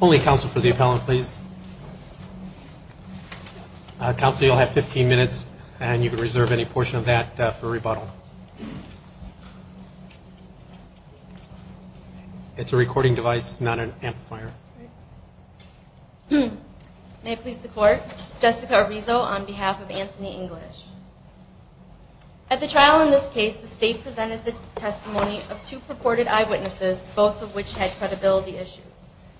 Only counsel for the appellant please. Counsel you'll have 15 minutes and you can reserve any portion of that for rebuttal. It's a recording device not an At the trial in this case, the state presented the testimony of two purported eyewitnesses, both of which had credibility issues.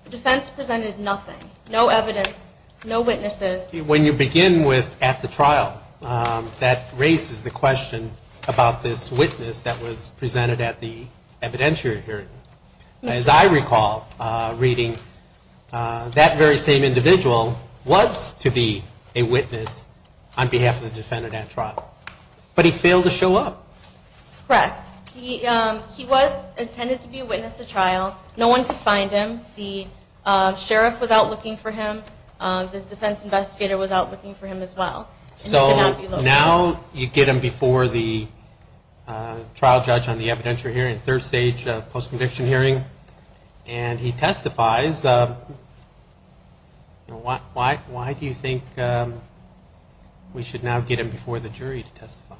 The defense presented nothing, no evidence, no witnesses. When you begin with at the trial, that raises the question about this witness that was presented at the evidentiary hearing. As I recall reading, that very same individual was to be a witness on behalf of the defendant at trial. But he failed to show up. Correct. He was intended to be a witness at trial. No one could find him. The sheriff was out looking for him. The defense investigator was out looking for him as well. So now you get him before the trial judge on the evidentiary hearing, third stage post-conviction hearing, and he testifies. Why do you think we should now get him before the jury to testify?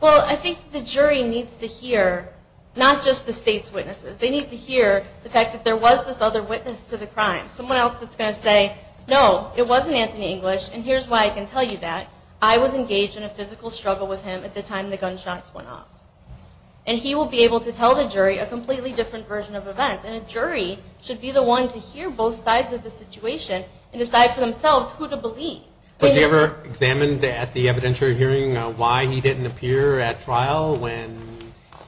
Well, I think the jury needs to hear not just the state's witnesses. They need to hear the fact that there was this other witness to the crime. Someone else that's going to say, no, it wasn't Anthony English, and here's why I can tell you that. I was engaged in a physical struggle with him at the time the gunshots went off. And he will be able to tell the jury a completely different version of events. And a jury should be the one to hear both sides of the situation and decide for themselves who to believe. Was he ever examined at the evidentiary hearing why he didn't appear at trial when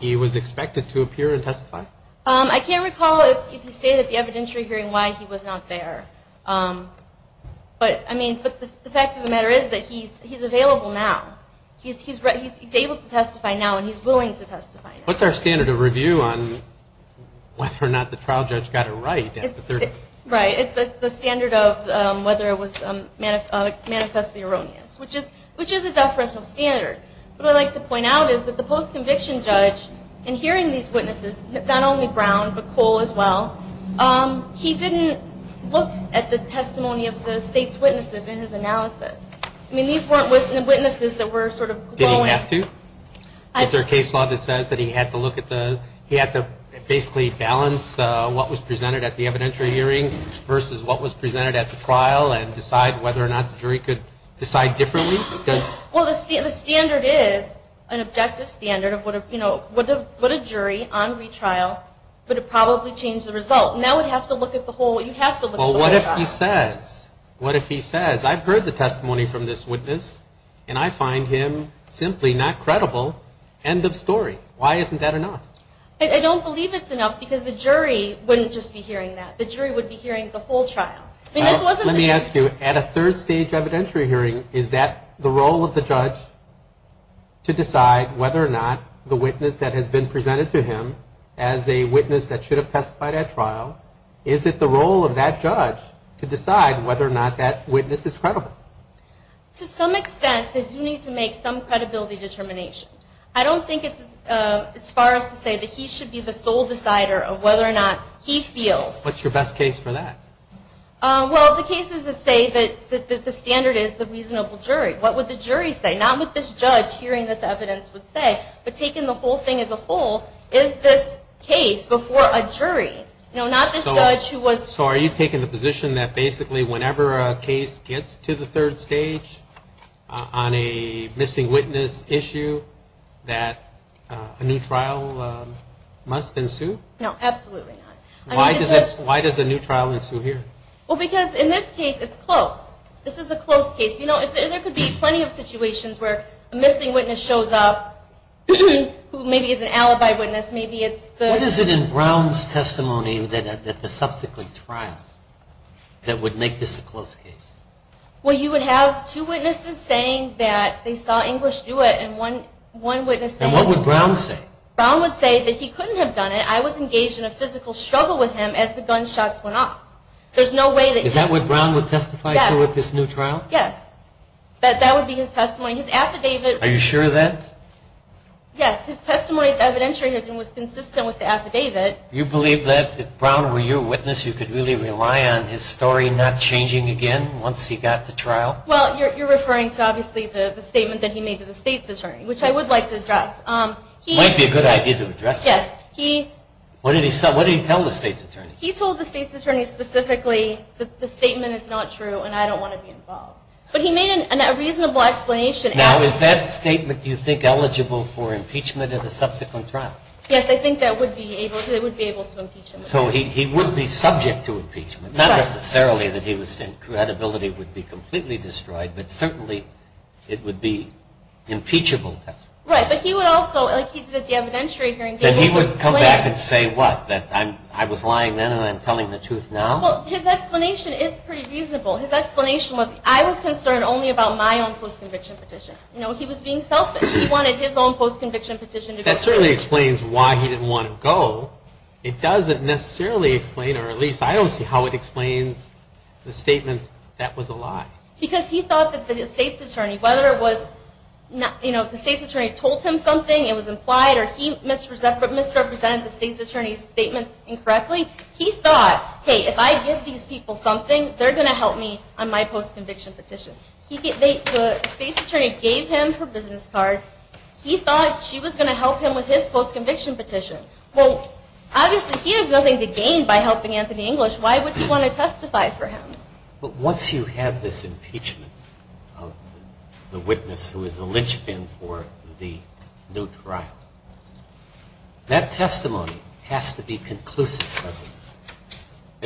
he was expected to appear and testify? I can't recall if he stated at the evidentiary hearing why he was not there. But the fact of the matter is that he's available now. He's able to testify now and he's willing to testify now. What's our standard of review on whether or not the trial judge got it right? Right. It's the standard of whether it was manifest erroneous, which is a deferential standard. What I'd like to point out is that the post-conviction judge, in hearing these witnesses, not only Brown, but Cole as well, he didn't look at the testimony of the state's witnesses in his analysis. I mean, these weren't witnesses that were sort of glowing. Did he have to? Is there a case law that says that he had to look at the, he had to basically balance what was presented at the evidentiary hearing versus what was presented at the trial and decide whether or not the jury could decide differently? Well, the standard is an objective standard of what a jury on retrial would have probably changed the result. Now we'd have to look at the whole, you'd have to look at the whole trial. Well, what if he says, what if he says, I've heard the testimony from this witness and I find him simply not credible, end of story. Why isn't that enough? I don't believe it's enough because the jury wouldn't just be hearing that. The jury would be hearing the whole trial. Let me ask you, at a third stage evidentiary hearing, is that the role of the judge to decide whether or not the witness that has been presented to him as a witness that should have testified at trial, is it the role of that judge to decide whether or not that witness is credible? To some extent, they do need to make some credibility determination. I don't think it's as far as to say that he should be the sole decider of whether or not he feels. What's your best case for that? Well, the cases that say that the standard is the reasonable jury. What would the jury say? Not what this judge hearing this evidence would say, but taking the whole thing as a whole, is this case before a jury? So are you taking the position that basically whenever a case gets to the third stage on a missing witness issue that a new trial must ensue? No, absolutely not. Why does a new trial ensue here? Well, because in this case it's close. This is a close case. There could be plenty of situations where a missing witness shows up who maybe is an alibi witness. What is it in Brown's testimony at the subsequent trial that would make this a close case? Well, you would have two witnesses saying that they saw English do it and one witness saying... And what would Brown say? Brown would say that he couldn't have done it. I was engaged in a physical struggle with him as the gunshots went off. Is that what Brown would testify to at this new trial? Yes. That would be his testimony. His affidavit... Are you sure of that? Yes. His testimony at the evidentiary was consistent with the affidavit. You believe that if Brown were your witness you could really rely on his story not changing again once he got to trial? Well, you're referring to obviously the statement that he made to the state's attorney, which I would like to address. It might be a good idea to address that. Yes. He... What did he tell the state's attorney? He told the state's attorney specifically that the statement is not true and I don't want to be involved. But he made a reasonable explanation. Now is that statement, do you think, eligible for impeachment at a subsequent trial? Yes. I think that would be able to impeach him. So he would be subject to impeachment. Not necessarily that he was... credibility would be completely destroyed, but certainly it would be impeachable testimony. Right. But he would also, like he did at the evidentiary hearing... Then he would come back and say what? That I was lying then and I'm telling the truth now? Well, his explanation is pretty reasonable. His explanation was, I was concerned only about my own post-conviction petition. You know, he was being selfish. He wanted his own post-conviction petition to go. That certainly explains why he didn't want to go. It doesn't necessarily explain, or at least I don't see how it explains the statement, that was a lie. Because he thought that the state's attorney, whether it was, you know, the state's attorney told him something, it was implied, or he misrepresented the state's attorney's statements incorrectly. He thought, hey, if I give these people something, they're going to help me on my post-conviction petition. The state's attorney gave him her business card. He thought she was going to help him with his post-conviction petition. Well, obviously he has nothing to gain by helping Anthony English. Why would he want to testify for him? But once you have this impeachment of the witness who is the linchpin for the new trial, that testimony has to be conclusive, doesn't it?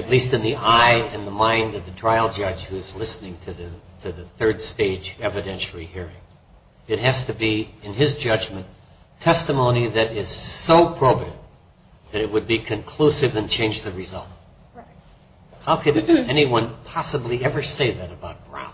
At least in the eye and the mind of the trial judge who is listening to the third stage evidentiary hearing. It has to be, in his judgment, testimony that is so probative that it would be conclusive and change the result. How could anyone possibly ever say that about Brown?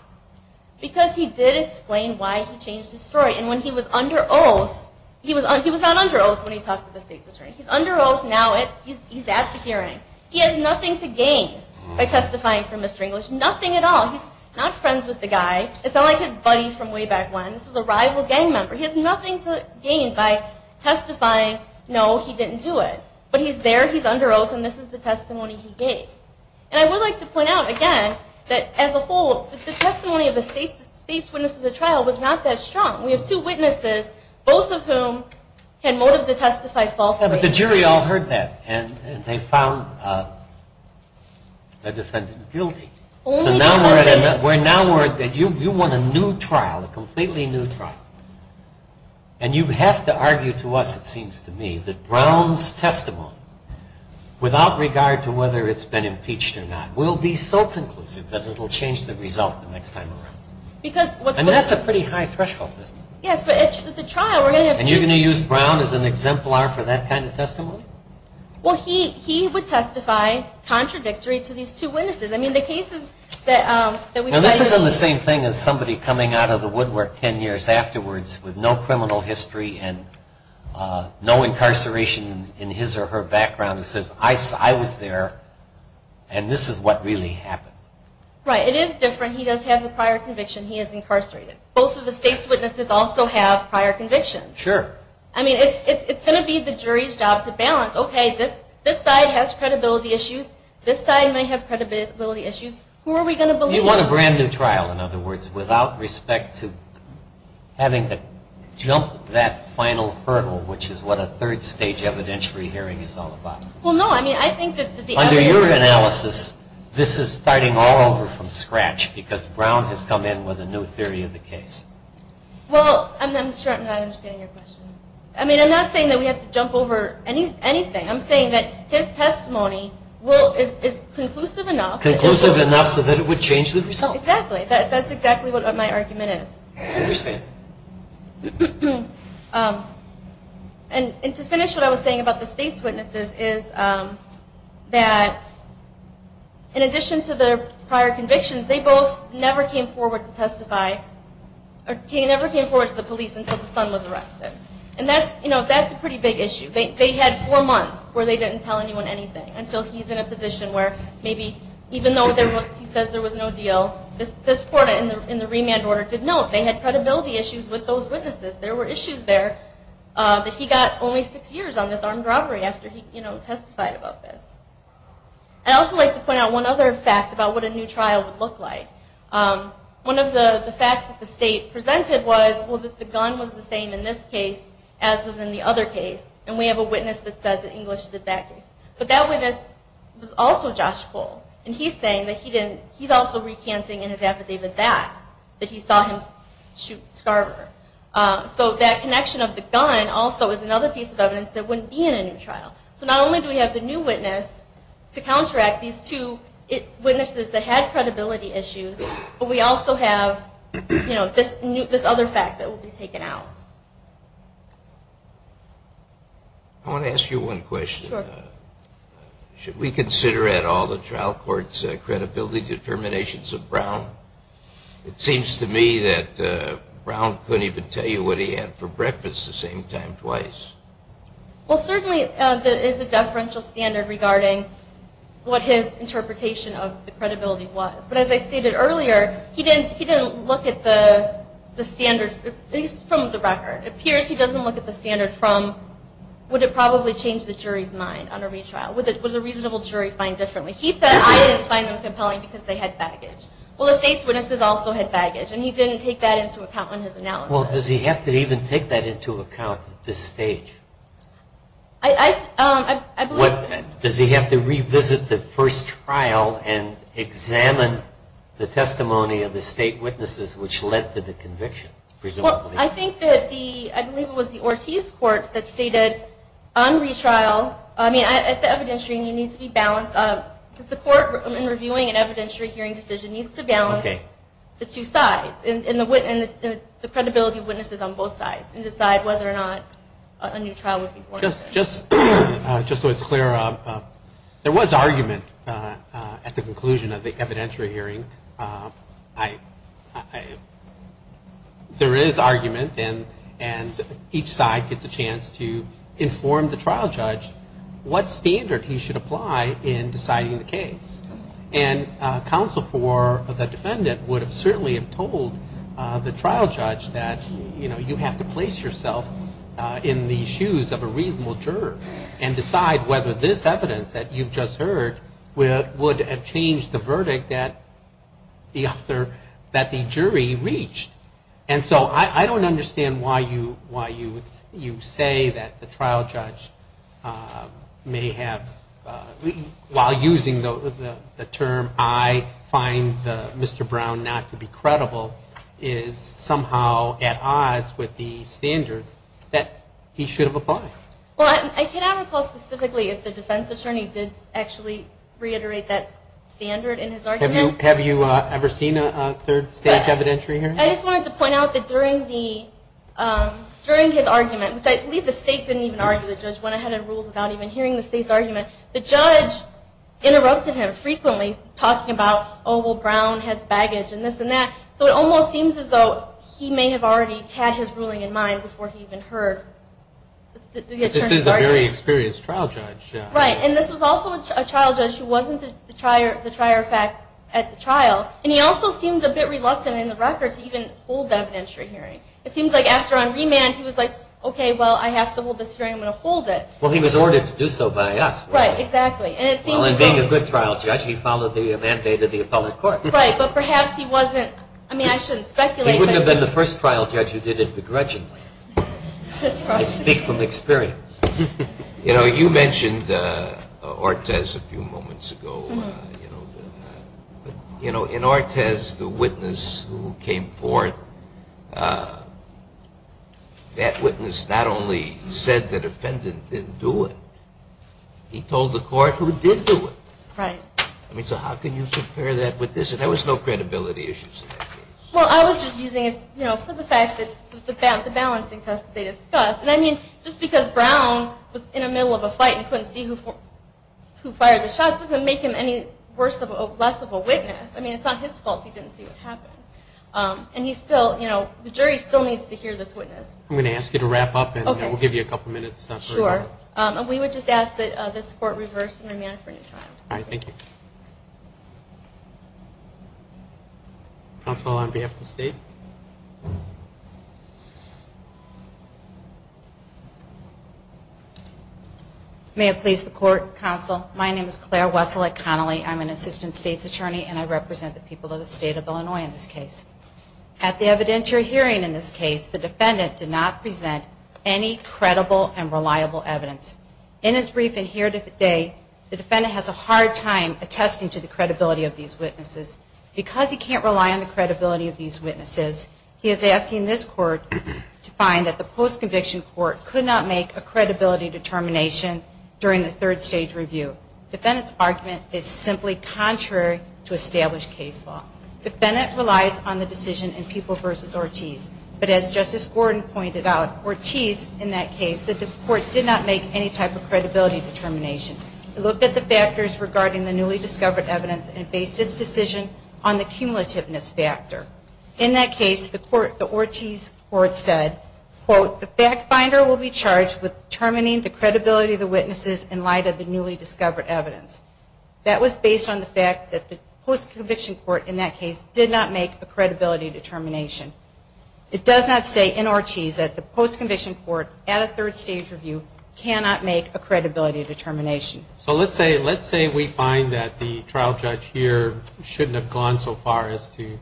Because he did explain why he changed his story. And when he was under oath, he was not under oath when he talked to the state's attorney. He's under oath now, he's at the hearing. He has nothing to gain by testifying for Mr. English. Nothing at all. He's not friends with the guy. It's not like his buddy from way back when. This was a rival gang member. He has nothing to gain by testifying, no, he didn't do it. But he's there, he's under oath, and this is the testimony he gave. And I would like to point out, again, that as a whole, the testimony of the state's witness to the trial was not that strong. We have two witnesses, both of whom had motive to testify falsely. But the jury all heard that, and they found the defendant guilty. So now you want a new trial, a completely new trial. And you have to argue to us, it seems to me, that Brown's testimony, without regard to whether it's been impeached or not, will be so conclusive that it will change the result the next time around. And that's a pretty high threshold, isn't it? And you're going to use Brown as an exemplar for that kind of testimony? Well, he would testify contradictory to these two witnesses. Now this isn't the same thing as somebody coming out of the woodwork ten years afterwards with no criminal history and no incarceration in his or her background who says, I was there, and this is what really happened. Right, it is different. He does have a prior conviction. He is incarcerated. Both of the state's witnesses also have prior convictions. Sure. I mean, it's going to be the jury's job to balance, okay, this side has credibility issues, this side may have credibility issues. Who are we going to believe? You want a brand new trial, in other words, without respect to having to jump that final hurdle, which is what a third stage evidentiary hearing is all about. Well, no, I mean, I think that the evidence... Under your analysis, this is starting all over from scratch, because Brown has come in with a new theory of the case. Well, I'm not understanding your question. I mean, I'm not saying that we have to jump over anything. I'm saying that his testimony is conclusive enough... Conclusive enough so that it would change the result. Exactly. That's exactly what my argument is. I understand. And to finish what I was saying about the state's witnesses is that in addition to their prior convictions, they both never came forward to testify, or never came forward to the police until the son was arrested. And that's a pretty big issue. They had four months where they didn't tell anyone anything until he's in a position where maybe, even though he says there was no deal, this court in the remand order did note they had credibility issues with those witnesses. There were issues there that he got only six years on this armed robbery after he testified about this. I'd also like to point out one other fact about what a new trial would look like. One of the facts that the state presented was that the gun was the same in this case as was in the other case, and we have a witness that says that English did that case. But that witness was also Josh Cole, and he's saying that he's also recanting in his affidavit that, that he saw him shoot Scarver. So that connection of the gun also is another piece of evidence that wouldn't be in a new trial. So not only do we have the new witness to counteract these two witnesses that had credibility issues, but we also have, you know, this other fact that will be taken out. I want to ask you one question. Sure. Should we consider at all the trial court's credibility determinations of Brown? It seems to me that Brown couldn't even tell you what he had for breakfast the same time twice. Well, certainly there is a deferential standard regarding what his interpretation of the credibility was. But as I stated earlier, he didn't look at the standard from the record. It appears he doesn't look at the standard from, would it probably change the jury's mind on a retrial? Would a reasonable jury find differently? He said, I didn't find them compelling because they had baggage. Well, the state's witnesses also had baggage, and he didn't take that into account in his analysis. Well, does he have to even take that into account at this stage? Does he have to revisit the first trial and examine the testimony of the state witnesses, which led to the conviction, presumably? Well, I think that the, I believe it was the Ortiz court that stated on retrial, I mean, it's evidentiary and you need to be balanced. The court, in reviewing an evidentiary hearing decision, needs to balance the two sides and the credibility of witnesses on both sides and decide whether or not a new trial would be born. Just so it's clear, there was argument at the conclusion of the evidentiary hearing. There is argument, and each side gets a chance to inform the trial judge what standard he should apply in deciding the case. And counsel for the defendant would have certainly have told the trial judge that, you know, you have to place yourself in the shoes of a reasonable juror and decide whether this evidence that you've just heard would have changed the verdict that the jury reached. And so I don't understand why you say that the trial judge may have, while using the term, I find Mr. Brown not to be credible, is somehow at odds with the standard that he should have applied. Well, I cannot recall specifically if the defense attorney did actually reiterate that standard in his argument. Have you ever seen a third stage evidentiary hearing? I just wanted to point out that during his argument, which I believe the state didn't even argue the judge went ahead and ruled without even hearing the state's argument. The judge interrupted him frequently, talking about, oh, well, Brown has baggage and this and that. So it almost seems as though he may have already had his ruling in mind before he even heard the attorney's argument. But this is a very experienced trial judge. Right, and this was also a trial judge who wasn't the trier of fact at the trial. And he also seemed a bit reluctant in the records to even hold that evidentiary hearing. It seems like after on remand, he was like, okay, well, I have to hold this hearing. I'm going to hold it. Well, he was ordered to do so by us. Right, exactly. Well, in being a good trial judge, he followed the mandate of the appellate court. Right, but perhaps he wasn't. I mean, I shouldn't speculate. He wouldn't have been the first trial judge who did it begrudgingly. I speak from experience. You know, you mentioned Ortiz a few moments ago. In Ortiz, the witness who came forth, that witness not only said the defendant didn't do it, he told the court who did do it. Right. I mean, so how can you compare that with this? And there was no credibility issues in that case. Well, I was just using it for the fact that the balancing test that they discussed. And I mean, just because Brown was in the middle of a fight and couldn't see who fired the shots doesn't make him any less of a witness. I mean, it's not his fault he didn't see what happened. And he still, you know, the jury still needs to hear this witness. I'm going to ask you to wrap up, and we'll give you a couple minutes. Sure. And we would just ask that this court reverse the remand for a new trial. All right. Thank you. Counsel, on behalf of the state. May it please the court, counsel. My name is Claire Wessel at Connolly. I'm an assistant state's attorney, and I represent the people of the state of Illinois in this case. At the evidentiary hearing in this case, the defendant did not present any credible and reliable evidence. In his brief and here today, the defendant has a hard time attesting to the credibility of these witnesses. Because he can't rely on the credibility of these witnesses, he is asking this court to find that the post-conviction court could not make a credibility determination during the third stage review. The defendant's argument is simply contrary to established case law. The defendant relies on the decision in Peoples v. Ortiz. But as Justice Gordon pointed out, Ortiz, in that case, the court did not make any type of credibility determination. It looked at the factors regarding the newly discovered evidence and based its decision on the cumulativeness factor. In that case, the Ortiz court said, quote, the fact finder will be charged with determining the credibility of the witnesses in light of the newly discovered evidence. That was based on the fact that the post-conviction court in that case did not make a credibility determination. It does not say in Ortiz that the post-conviction court at a third stage review cannot make a credibility determination. So let's say we find that the trial judge here shouldn't have gone so far as to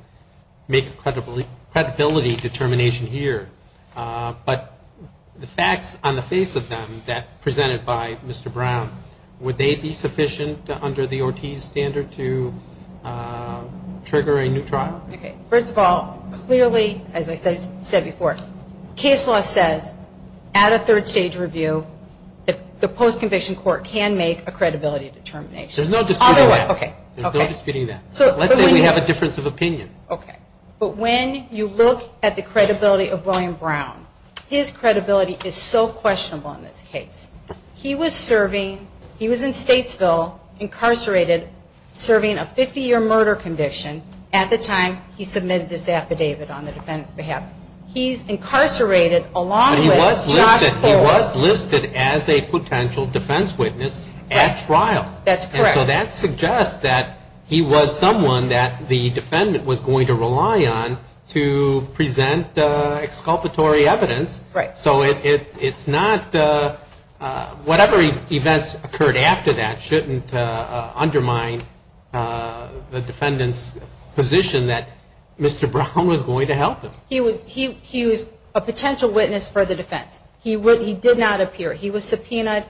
make a credibility determination here. But the facts on the face of them presented by Mr. Brown, would they be sufficient under the Ortiz standard to trigger a new trial? Okay. First of all, clearly, as I said before, case law says at a third stage review, the post-conviction court can make a credibility determination. There's no disputing that. Okay. There's no disputing that. Let's say we have a difference of opinion. Okay. But when you look at the credibility of William Brown, his credibility is so questionable in this case. He was serving, he was in Statesville, incarcerated, serving a 50-year murder conviction at the time he submitted this affidavit on the defendant's behalf. He's incarcerated along with Josh Cole. He was listed as a potential defense witness at trial. That's correct. And so that suggests that he was someone that the defendant was going to rely on to present exculpatory evidence. Right. So it's not, whatever events occurred after that shouldn't undermine the defendant's position that Mr. Brown was going to help him. He was a potential witness for the defense. He did not appear. He was subpoenaed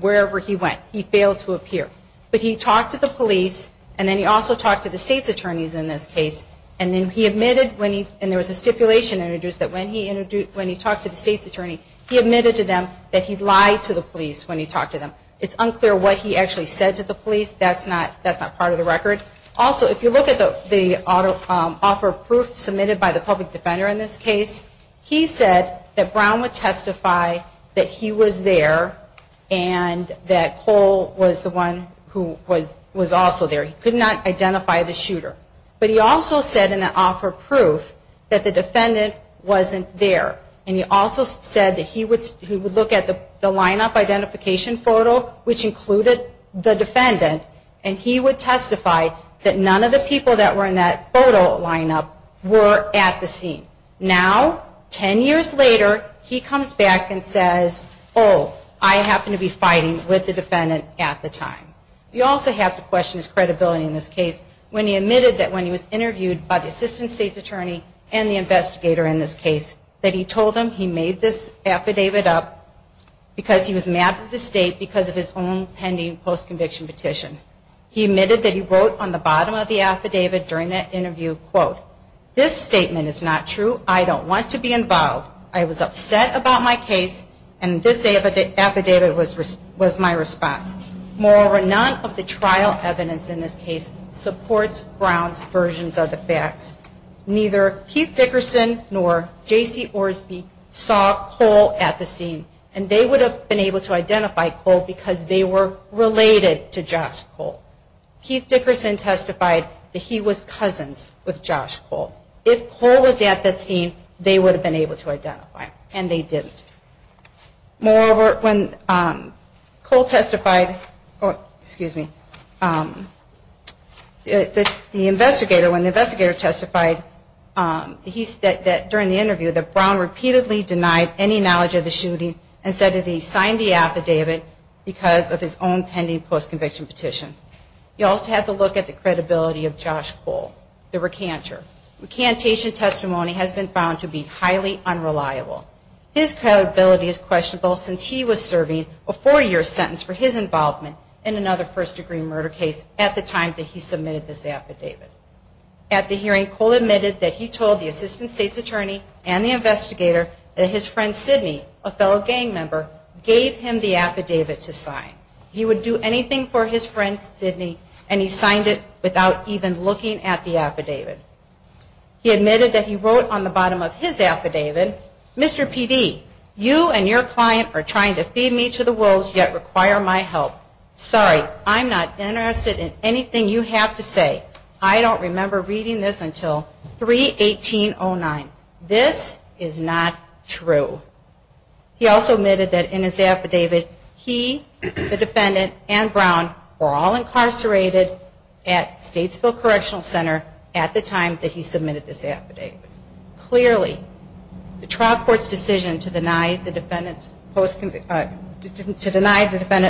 wherever he went. He failed to appear. But he talked to the police, and then he also talked to the state's attorneys in this case. And then he admitted when he, and there was a stipulation introduced that when he talked to the state's attorney, he admitted to them that he lied to the police when he talked to them. It's unclear what he actually said to the police. That's not part of the record. Also, if you look at the offer of proof submitted by the public defender in this case, he said that Brown would testify that he was there and that Cole was the one who was also there. He could not identify the shooter. But he also said in the offer of proof that the defendant wasn't there. And he also said that he would look at the lineup identification photo, which included the defendant, and he would testify that none of the people that were in that photo lineup were at the scene. Now, ten years later, he comes back and says, oh, I happened to be fighting with the defendant at the time. You also have to question his credibility in this case when he admitted that when he was interviewed by the assistant state's attorney and the investigator in this case, that he told them he made this affidavit up because he was mad at the state because of his own pending post-conviction petition. He admitted that he wrote on the bottom of the affidavit during that interview, quote, this statement is not true. I don't want to be involved. I was upset about my case, and this affidavit was my response. Moreover, none of the trial evidence in this case supports Brown's versions of the facts. Neither Keith Dickerson nor J.C. Orsby saw Cole at the scene, and they would have been able to identify Cole because they were related to Josh Cole. Keith Dickerson testified that he was cousins with Josh Cole. If Cole was at that scene, they would have been able to identify him, and they didn't. Moreover, when Cole testified, excuse me, the investigator, when the investigator testified, he said that during the interview that Brown repeatedly denied any knowledge of the shooting and said that he signed the affidavit because of his own pending post-conviction petition. You also have to look at the credibility of Josh Cole, the recanter. The recantation testimony has been found to be highly unreliable. His credibility is questionable since he was serving a four-year sentence for his involvement in another first-degree murder case at the time that he submitted this affidavit. At the hearing, Cole admitted that he told the assistant state's attorney and the investigator that his friend Sidney, a fellow gang member, gave him the affidavit to sign. He would do anything for his friend Sidney, and he signed it without even looking at the affidavit. He admitted that he wrote on the bottom of his affidavit, Mr. P.D., you and your client are trying to feed me to the wolves yet require my help. Sorry, I'm not interested in anything you have to say. I don't remember reading this until 3-18-09. This is not true. He also admitted that in his affidavit, he, the defendant, and Brown were all incarcerated at Statesville Correctional Center at the time that he submitted this affidavit. Clearly, the trial court's decision to deny the defendant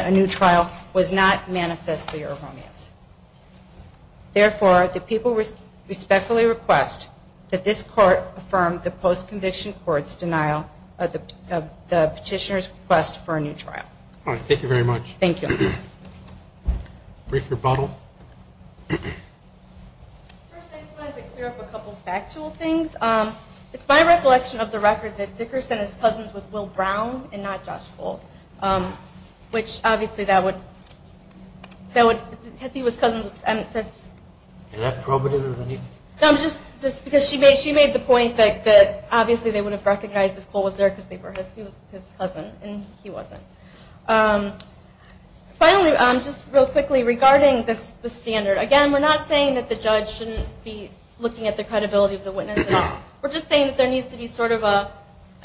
a new trial was not manifestly erroneous. Therefore, the people respectfully request that this court affirm the post-conviction court's denial of the petitioner's request for a new trial. Thank you very much. Thank you. Brief rebuttal. First, I just wanted to clear up a couple of factual things. It's my reflection of the record that Dickerson is cousins with Will Brown and not Josh Cole, which obviously that would, if he was cousins with, I mean, that's just. Did that probe it into the need? No, just because she made the point that obviously they would have recognized if Cole was there because they were his cousins, and he wasn't. Finally, just real quickly regarding the standard. Again, we're not saying that the judge shouldn't be looking at the credibility of the witness at all. We're just saying that there needs to be sort of a,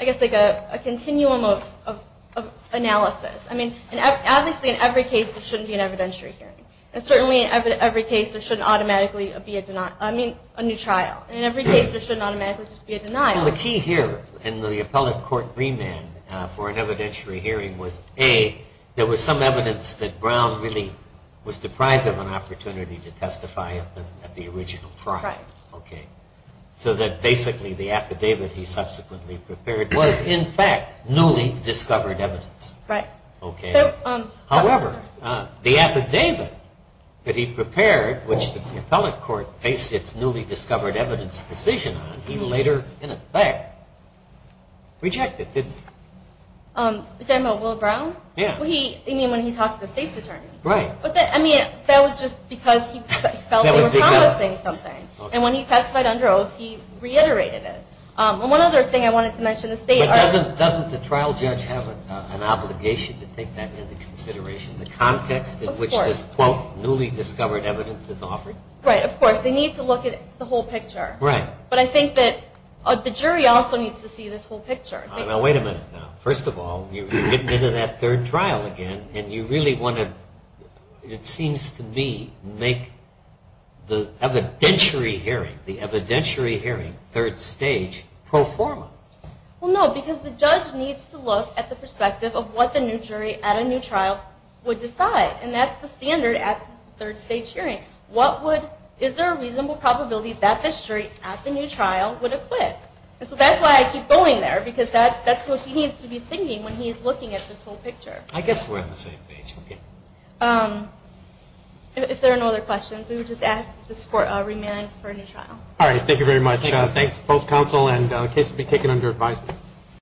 I guess like a continuum of analysis. I mean, obviously in every case, there shouldn't be an evidentiary hearing. And certainly in every case, there shouldn't automatically be a denial, I mean, a new trial. In every case, there shouldn't automatically just be a denial. Well, the key here in the appellate court remand for an evidentiary hearing was A, there was some evidence that Brown really was deprived of an opportunity to testify at the original trial. Right. So that basically the affidavit he subsequently prepared was in fact newly discovered evidence. Right. Okay. However, the affidavit that he prepared, which the appellate court based its newly discovered evidence decision on, he later in effect rejected, didn't he? Did I know Will Brown? Yeah. Well, he, I mean, when he talked to the state's attorney. Right. I mean, that was just because he felt they were promising something. And when he testified under oath, he reiterated it. And one other thing I wanted to mention, the state does But doesn't the trial judge have an obligation to take that into consideration, the context in which this, quote, newly discovered evidence is offered? Right, of course. They need to look at the whole picture. Right. But I think that the jury also needs to see this whole picture. Now, wait a minute now. First of all, you're getting into that third trial again, and you really want to, it seems to me, make the evidentiary hearing, the evidentiary hearing, third stage pro forma. Well, no, because the judge needs to look at the perspective of what the new jury at a new trial would decide. And that's the standard at third stage hearing. What would, is there a reasonable probability that the jury at the new trial would acquit? And so that's why I keep going there, because that's what he needs to be thinking when he's looking at this whole picture. I guess we're on the same page. If there are no other questions, we would just ask this court to remand for a new trial. All right, thank you very much. Thanks. Both counsel and case will be taken under advisement.